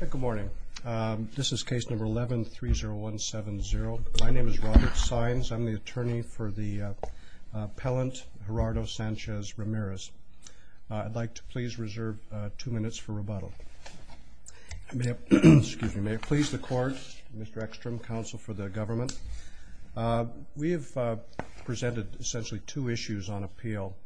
Good morning. This is case number 11-30170. My name is Robert Saenz. I'm the attorney for the appellant Gerardo Sanchez-Ramirez. I'd like to please reserve two minutes for rebuttal. May it please the court, Mr. Ekstrom, counsel for the government. We have presented essentially two issues on appeal.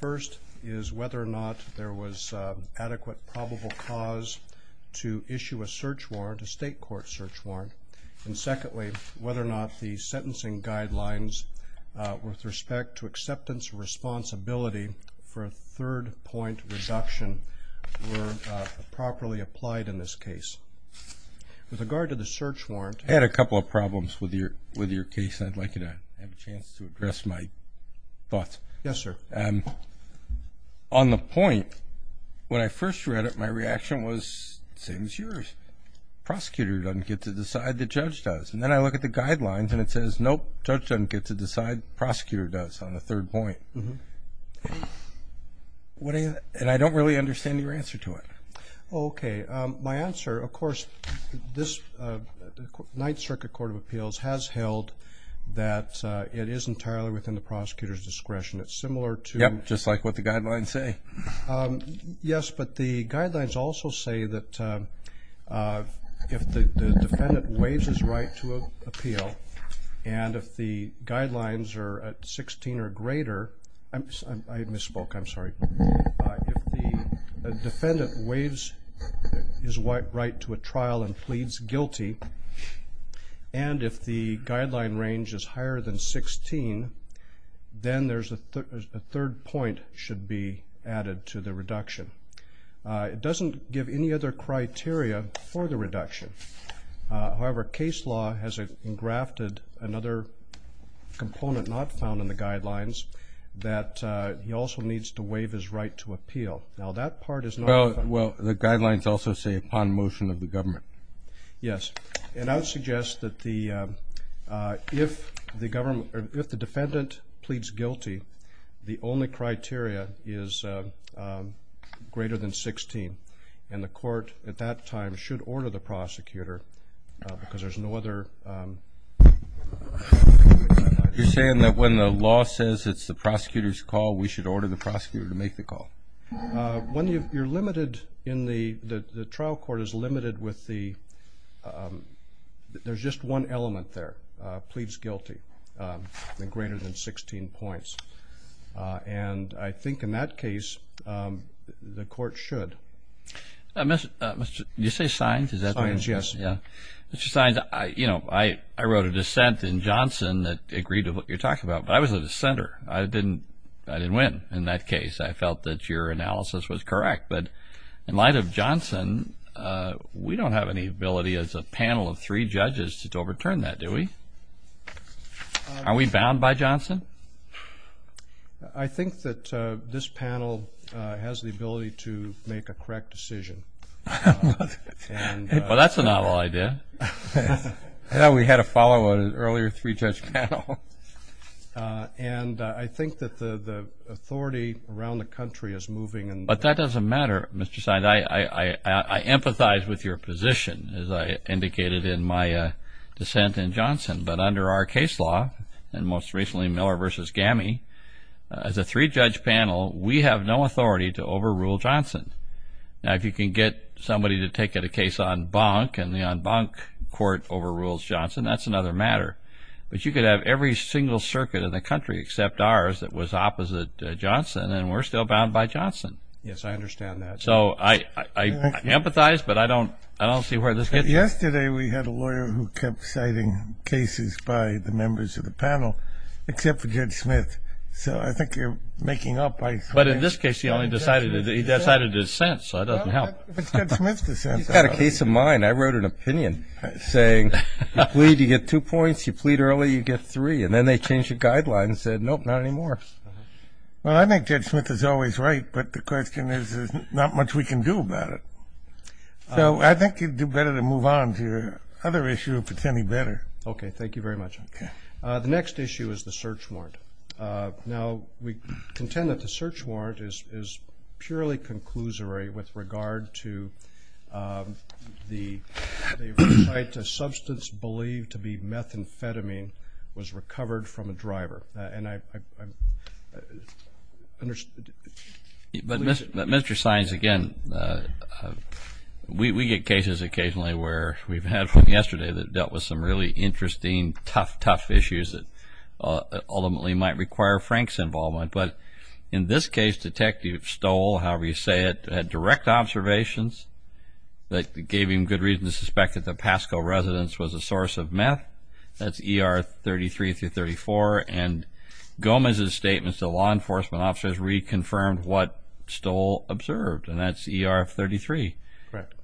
First is whether or not there was adequate probable cause to issue a search warrant, a state court search warrant. And secondly, whether or not the sentencing guidelines with respect to acceptance of responsibility for a third point reduction were properly applied in this case. With regard to the search warrant... I'd like you to have a chance to address my thoughts. On the point, when I first read it, my reaction was the same as yours. Prosecutor doesn't get to decide, the judge does. And then I look at the guidelines and it says, nope, judge doesn't get to decide, prosecutor does on the third point. And I don't really understand your answer to it. Okay. My answer, of course, this Ninth Circuit Court of Appeals has held that it is entirely within the prosecutor's discretion. It's similar to... Yep, just like what the guidelines say. Yes, but the guidelines also say that if the defendant waives his right to appeal and if the guidelines are at 16 or greater... I misspoke, I'm sorry. If the defendant waives his right to a trial and pleads guilty, and if the guideline range is higher than 16, then a third point should be added to the reduction. It doesn't give any other criteria for the reduction. However, case law has engrafted another component not found in the guidelines that he also needs to waive his right to appeal. Now that part is not... Well, the guidelines also say upon motion of the government. Yes, and I would suggest that if the defendant pleads guilty, the only criteria is greater than 16. And the court at that time should order the prosecutor because there's no other... You're saying that when the law says it's the prosecutor's call, we should order the prosecutor to make the call? When you're limited in the... The trial court is limited with the... There's just one element there, pleads guilty, and greater than 16 points. And I think in that case, the court should. Mr. Sines, I wrote a dissent in Johnson that agreed to what you're talking about, but I was a dissenter. I didn't win in that case. I felt that your analysis was correct. But in light of Johnson, we don't have any ability as a panel of three judges to overturn that, do we? Are we bound by Johnson? I think that this panel has the ability to make a correct decision. Well, that's a novel idea. I thought we had a follow on an earlier three-judge panel. And I think that the authority around the country is moving... But that doesn't matter, Mr. Sines. I empathize with your position, as I indicated in my dissent in Johnson. But under our case law, and most recently Miller v. Gammy, as a three-judge panel, we have no authority to overrule Johnson. Now, if you can get somebody to take a case on Bonk, and the Bonk court overrules Johnson, that's another matter. But you could have every single circuit in the country except ours that was opposite Johnson, and we're still bound by Johnson. Yes, I understand that. So I empathize, but I don't see where this gets... Yesterday, we had a lawyer who kept citing cases by the members of the panel, except for Judge Smith. So I think you're making up... But in this case, he only decided to dissent, so that doesn't help. It's Judge Smith's dissent. He's got a case of mine. I wrote an opinion saying, you plead, you get two points. You plead early, you get three. And then they changed the guidelines and said, nope, not anymore. Well, I think Judge Smith is always right, but the question is, there's not much we can do about it. So I think you'd do better to move on to your other issue, if it's any better. Okay, thank you very much. Okay. The next issue is the search warrant. Now, we contend that the search warrant is purely conclusory with regard to the site. A substance believed to be methamphetamine was recovered from a driver. But, Mr. Sines, again, we get cases occasionally where we've had from yesterday that dealt with some really interesting, tough, tough issues that ultimately might require Frank's involvement. But in this case, Detective Stoll, however you say it, had direct observations that gave him good reason to suspect that the Pasco residence was a source of meth. That's ER 33 through 34. And Gomez's statements to law enforcement officers reconfirmed what Stoll observed, and that's ER 33. Correct.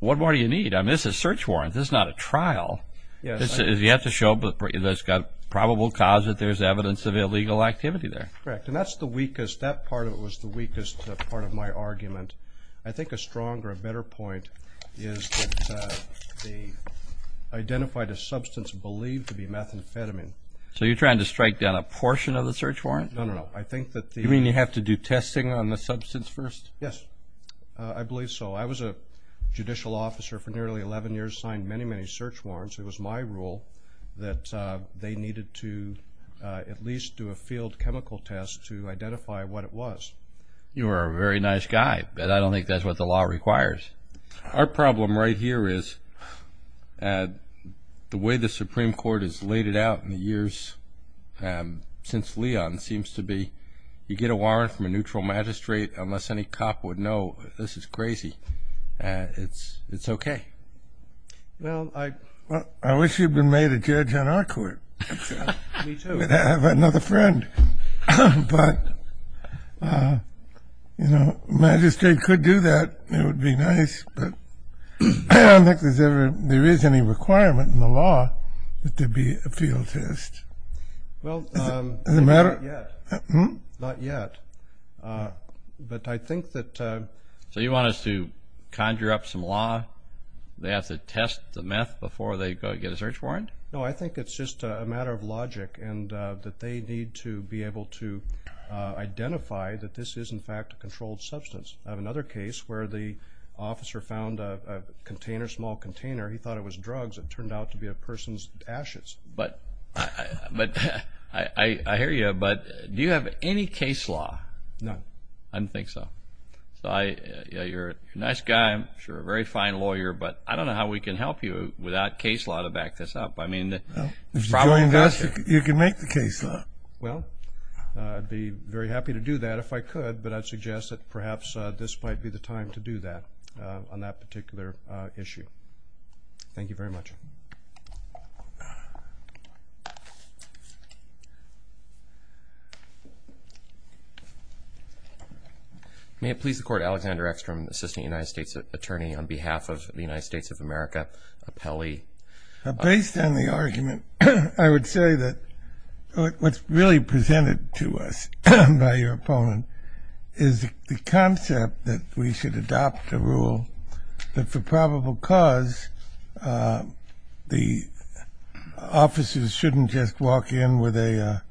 What more do you need? I mean, this is a search warrant. This is not a trial. Yes. You have to show that it's got probable cause that there's evidence of illegal activity there. Correct. And that's the weakest. That part of it was the weakest part of my argument. I think a stronger, better point is that they identified a substance believed to be methamphetamine. So you're trying to strike down a portion of the search warrant? No, no, no. I think that the… You mean you have to do testing on the substance first? Yes, I believe so. I was a judicial officer for nearly 11 years, signed many, many search warrants. It was my rule that they needed to at least do a field chemical test to identify what it was. You're a very nice guy, but I don't think that's what the law requires. Our problem right here is the way the Supreme Court has laid it out in the years since Leon seems to be, you get a warrant from a neutral magistrate, unless any cop would know, this is crazy, it's okay. Well, I wish you'd been made a judge on our court. Me too. I'd have another friend. But, you know, a magistrate could do that. It would be nice. But I don't think there is any requirement in the law that there be a field test. Well, not yet. Not yet. But I think that… So you want us to conjure up some law, they have to test the meth before they go get a search warrant? No, I think it's just a matter of logic, and that they need to be able to identify that this is, in fact, a controlled substance. I have another case where the officer found a container, a small container. He thought it was drugs. It turned out to be a person's ashes. But I hear you, but do you have any case law? None. I don't think so. So you're a nice guy, I'm sure, a very fine lawyer, but I don't know how we can help you without case law to back this up. If you join us, you can make the case law. Well, I'd be very happy to do that if I could, but I'd suggest that perhaps this might be the time to do that on that particular issue. Thank you. Thank you very much. May it please the Court, Alexander Eckstrom, Assistant United States Attorney on behalf of the United States of America, appellee. Based on the argument, I would say that what's really presented to us by your opponent is the concept that we should adopt a rule that for probable cause the officers shouldn't just walk in with a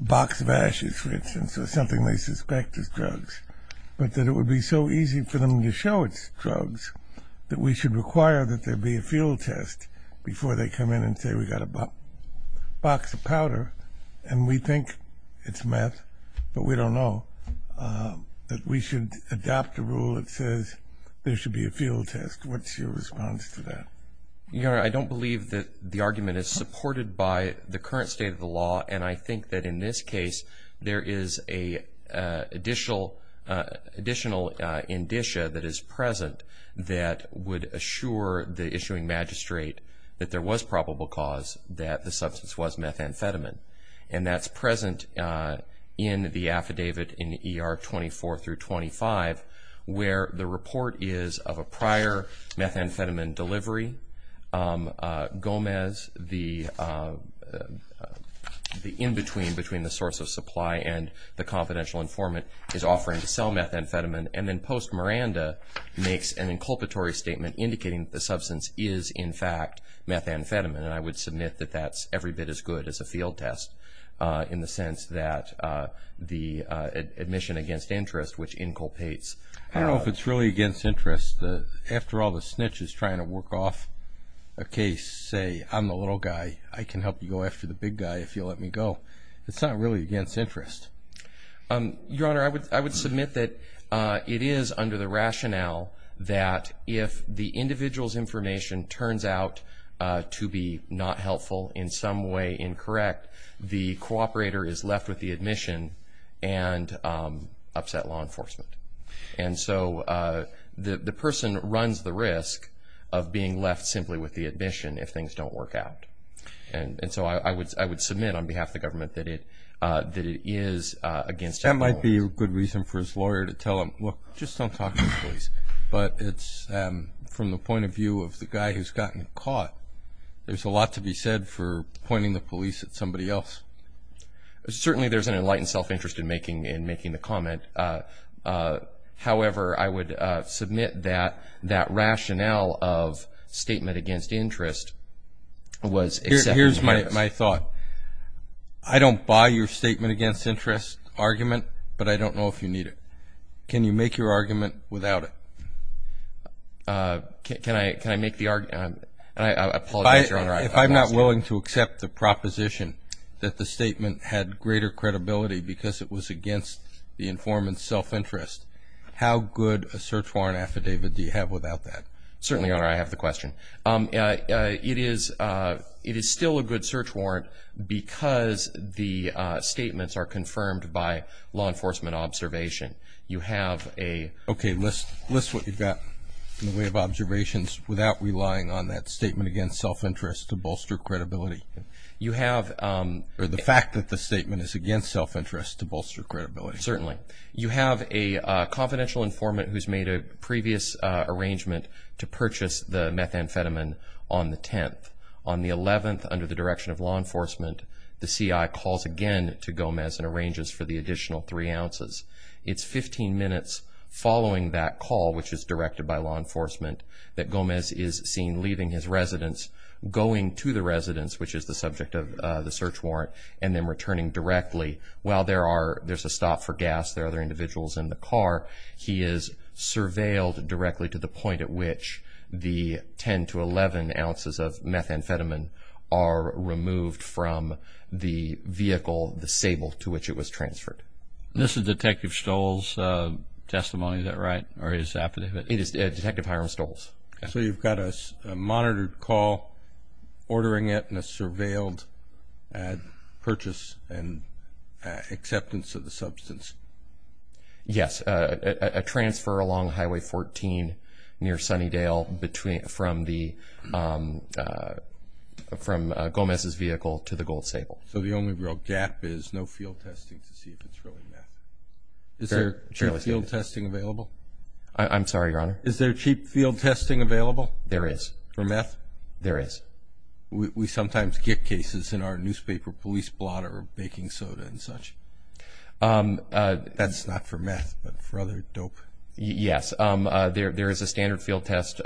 box of ashes, for instance, or something they suspect is drugs, but that it would be so easy for them to show it's drugs that we should require that there be a field test before they come in and say we got a box of powder and we think it's meth, but we don't know, that we should adopt a rule that says there should be a field test. What's your response to that? Your Honor, I don't believe that the argument is supported by the current state of the law, and I think that in this case there is an additional indicia that is present that would assure the issuing magistrate that there was probable cause, that the substance was methamphetamine, and that's present in the affidavit in ER 24 through 25 where the report is of a prior methamphetamine delivery. Gomez, the in-between between the source of supply and the confidential informant, is offering to sell methamphetamine, and then Post Miranda makes an inculpatory statement indicating that the substance is in fact methamphetamine, and I would submit that that's every bit as good as a field test in the sense that the admission against interest, which inculpates. I don't know if it's really against interest. After all, the snitch is trying to work off a case, say, I'm the little guy, I can help you go after the big guy if you let me go. It's not really against interest. Your Honor, I would submit that it is under the rationale that if the individual's information turns out to be not helpful, in some way incorrect, the cooperator is left with the admission and upset law enforcement. And so the person runs the risk of being left simply with the admission if things don't work out. And so I would submit on behalf of the government that it is against influence. That might be a good reason for his lawyer to tell him, look, just don't talk to the police. But it's from the point of view of the guy who's gotten caught, there's a lot to be said for pointing the police at somebody else. Certainly there's an enlightened self-interest in making the comment. However, I would submit that that rationale of statement against interest was. Here's my thought. I don't buy your statement against interest argument, but I don't know if you need it. Can you make your argument without it? Can I make the argument? I apologize, Your Honor. If I'm not willing to accept the proposition that the statement had greater credibility because it was against the informant's self-interest, how good a search warrant affidavit do you have without that? Certainly, Your Honor, I have the question. It is still a good search warrant because the statements are confirmed by law enforcement observation. You have a... Okay, list what you've got in the way of observations without relying on that statement against self-interest to bolster credibility. You have... Or the fact that the statement is against self-interest to bolster credibility. Certainly. You have a confidential informant who's made a previous arrangement to purchase the methamphetamine on the 10th. On the 11th, under the direction of law enforcement, the CI calls again to Gomez and arranges for the additional three ounces. It's 15 minutes following that call, which is directed by law enforcement, that Gomez is seen leaving his residence, going to the residence, which is the subject of the search warrant, and then returning directly. While there's a stop for gas, there are other individuals in the car, he is surveilled directly to the point at which the 10 to 11 ounces of methamphetamine are removed from the vehicle, the sable to which it was transferred. This is Detective Stoll's testimony, is that right? It is Detective Hiram Stoll's. So you've got a monitored call ordering it and a surveilled purchase and acceptance of the substance. Yes, a transfer along Highway 14 near Sunnydale from Gomez's vehicle to the gold sable. So the only real gap is no field testing to see if it's really meth. Is there field testing available? I'm sorry, Your Honor? Is there cheap field testing available? There is. For meth? There is. We sometimes get cases in our newspaper, police blotter, baking soda and such. That's not for meth, but for other dope? Yes. There is a standard field test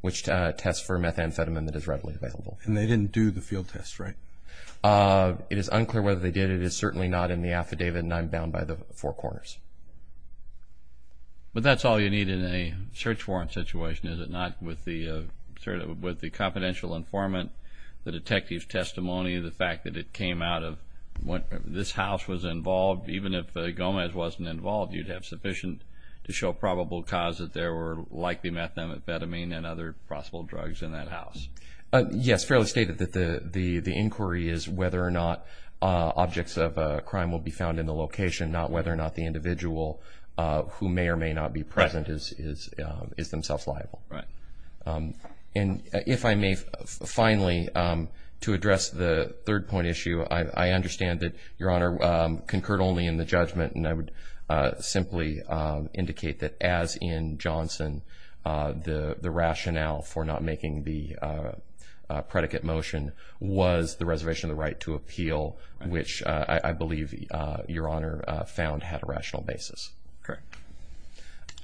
which tests for methamphetamine that is readily available. And they didn't do the field test, right? It is unclear whether they did. It is certainly not in the affidavit, and I'm bound by the four corners. But that's all you need in a search warrant situation, is it not, with the confidential informant, the detective's testimony, the fact that it came out of this house was involved. Even if Gomez wasn't involved, you'd have sufficient to show probable cause that there were likely methamphetamine and other possible drugs in that house. Yes, fairly stated that the inquiry is whether or not objects of crime will be found in the location, not whether or not the individual who may or may not be present is themselves liable. Right. And if I may, finally, to address the third point issue, I understand that Your Honor concurred only in the judgment, and I would simply indicate that as in Johnson, the rationale for not making the predicate motion was the reservation of the right to appeal, which I believe Your Honor found had a rational basis. Correct.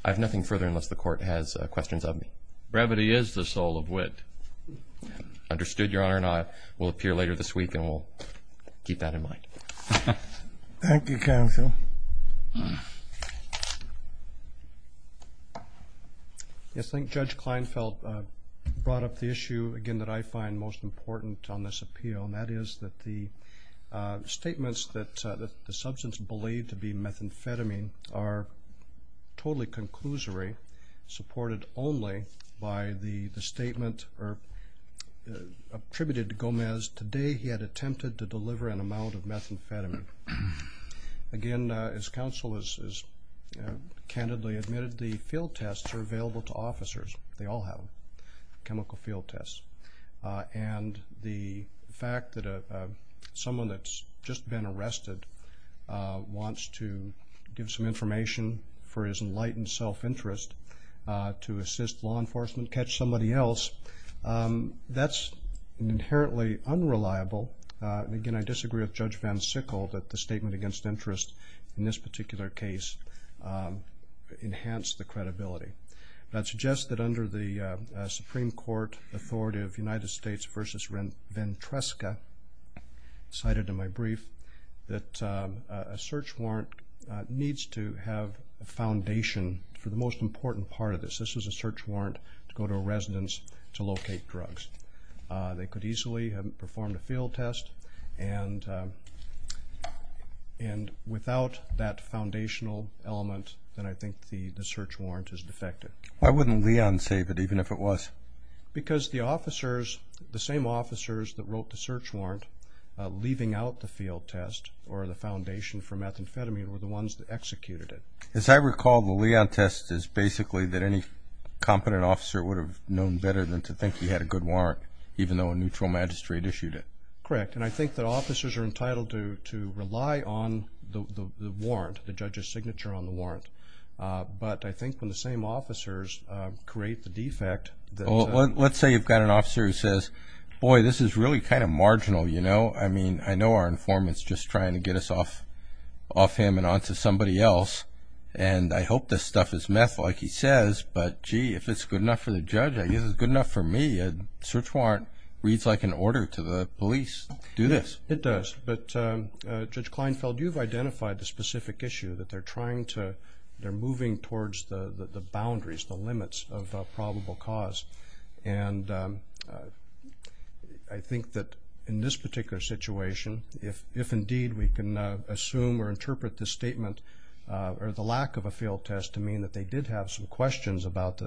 I have nothing further unless the Court has questions of me. Brevity is the soul of wit. Understood, Your Honor, and I will appear later this week, and we'll keep that in mind. Thank you, counsel. I think Judge Kleinfeld brought up the issue, again, that I find most important on this appeal, and that is that the statements that the substance believed to be methamphetamine are totally conclusory, supported only by the statement attributed to Gomez, today he had attempted to deliver an amount of methamphetamine. Again, as counsel has candidly admitted, the field tests are available to officers. They all have them, chemical field tests. And the fact that someone that's just been arrested wants to give some information for his enlightened self-interest to assist law enforcement catch somebody else, that's inherently unreliable. Again, I disagree with Judge Van Sickle that the statement against interest in this particular case enhanced the credibility. And I'd suggest that under the Supreme Court authority of United States v. Ventresca, cited in my brief, that a search warrant needs to have a foundation for the most important part of this. This is a search warrant to go to a residence to locate drugs. They could easily have performed a field test, and without that foundational element, then I think the search warrant is defective. Why wouldn't Leon save it, even if it was? Because the officers, the same officers that wrote the search warrant leaving out the field test or the foundation for methamphetamine were the ones that executed it. As I recall, the Leon test is basically that any competent officer would have known better than to think he had a good warrant, even though a neutral magistrate issued it. Correct. And I think that officers are entitled to rely on the warrant, the judge's signature on the warrant. But I think when the same officers create the defect that... Well, let's say you've got an officer who says, boy, this is really kind of marginal, you know? I mean, I know our informant's just trying to get us off him and onto somebody else, and I hope this stuff is meth like he says, but gee, if it's good enough for the judge, I guess it's good enough for me. A search warrant reads like an order to the police. Do this. Yes, it does. But, Judge Kleinfeld, you've identified the specific issue, that they're trying to, they're moving towards the boundaries, the limits of probable cause. And I think that in this particular situation, if indeed we can assume or interpret this statement or the lack of a field test to mean that they did have some questions about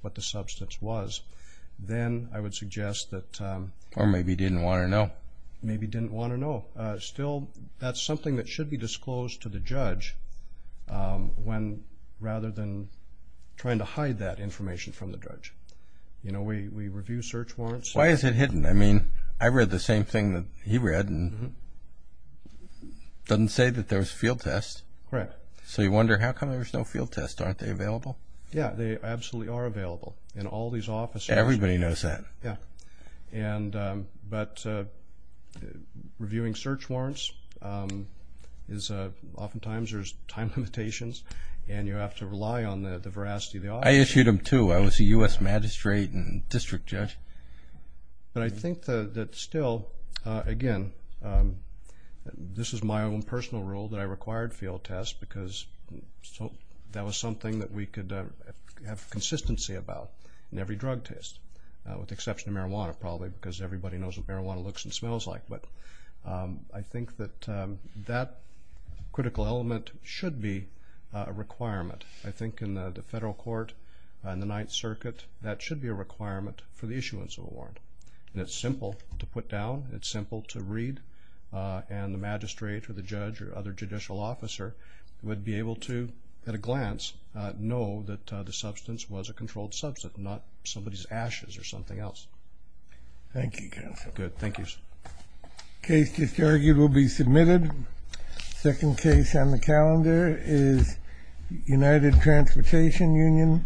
what the substance was, then I would suggest that... Or maybe didn't want to know. Maybe didn't want to know. Still, that's something that should be disclosed to the judge rather than trying to hide that information from the judge. Why is it hidden? I mean, I read the same thing that he read, and it doesn't say that there was a field test. Correct. So you wonder, how come there's no field test? Aren't they available? Yeah, they absolutely are available. And all these officers... Everybody knows that. Yeah. But reviewing search warrants, oftentimes there's time limitations, and you have to rely on the veracity of the officer. I issued them too. I was a U.S. magistrate and district judge. But I think that still, again, this is my own personal rule that I required field tests because that was something that we could have consistency about in every drug test, with the exception of marijuana probably, because everybody knows what marijuana looks and smells like. But I think that that critical element should be a requirement. I think in the federal court, in the Ninth Circuit, that should be a requirement for the issuance of a warrant. And it's simple to put down. It's simple to read. And the magistrate or the judge or other judicial officer would be able to, at a glance, know that the substance was a controlled substance, not somebody's ashes or something else. Thank you, counsel. Good. Thank you. Case just argued will be submitted. Second case on the calendar is United Transportation Union.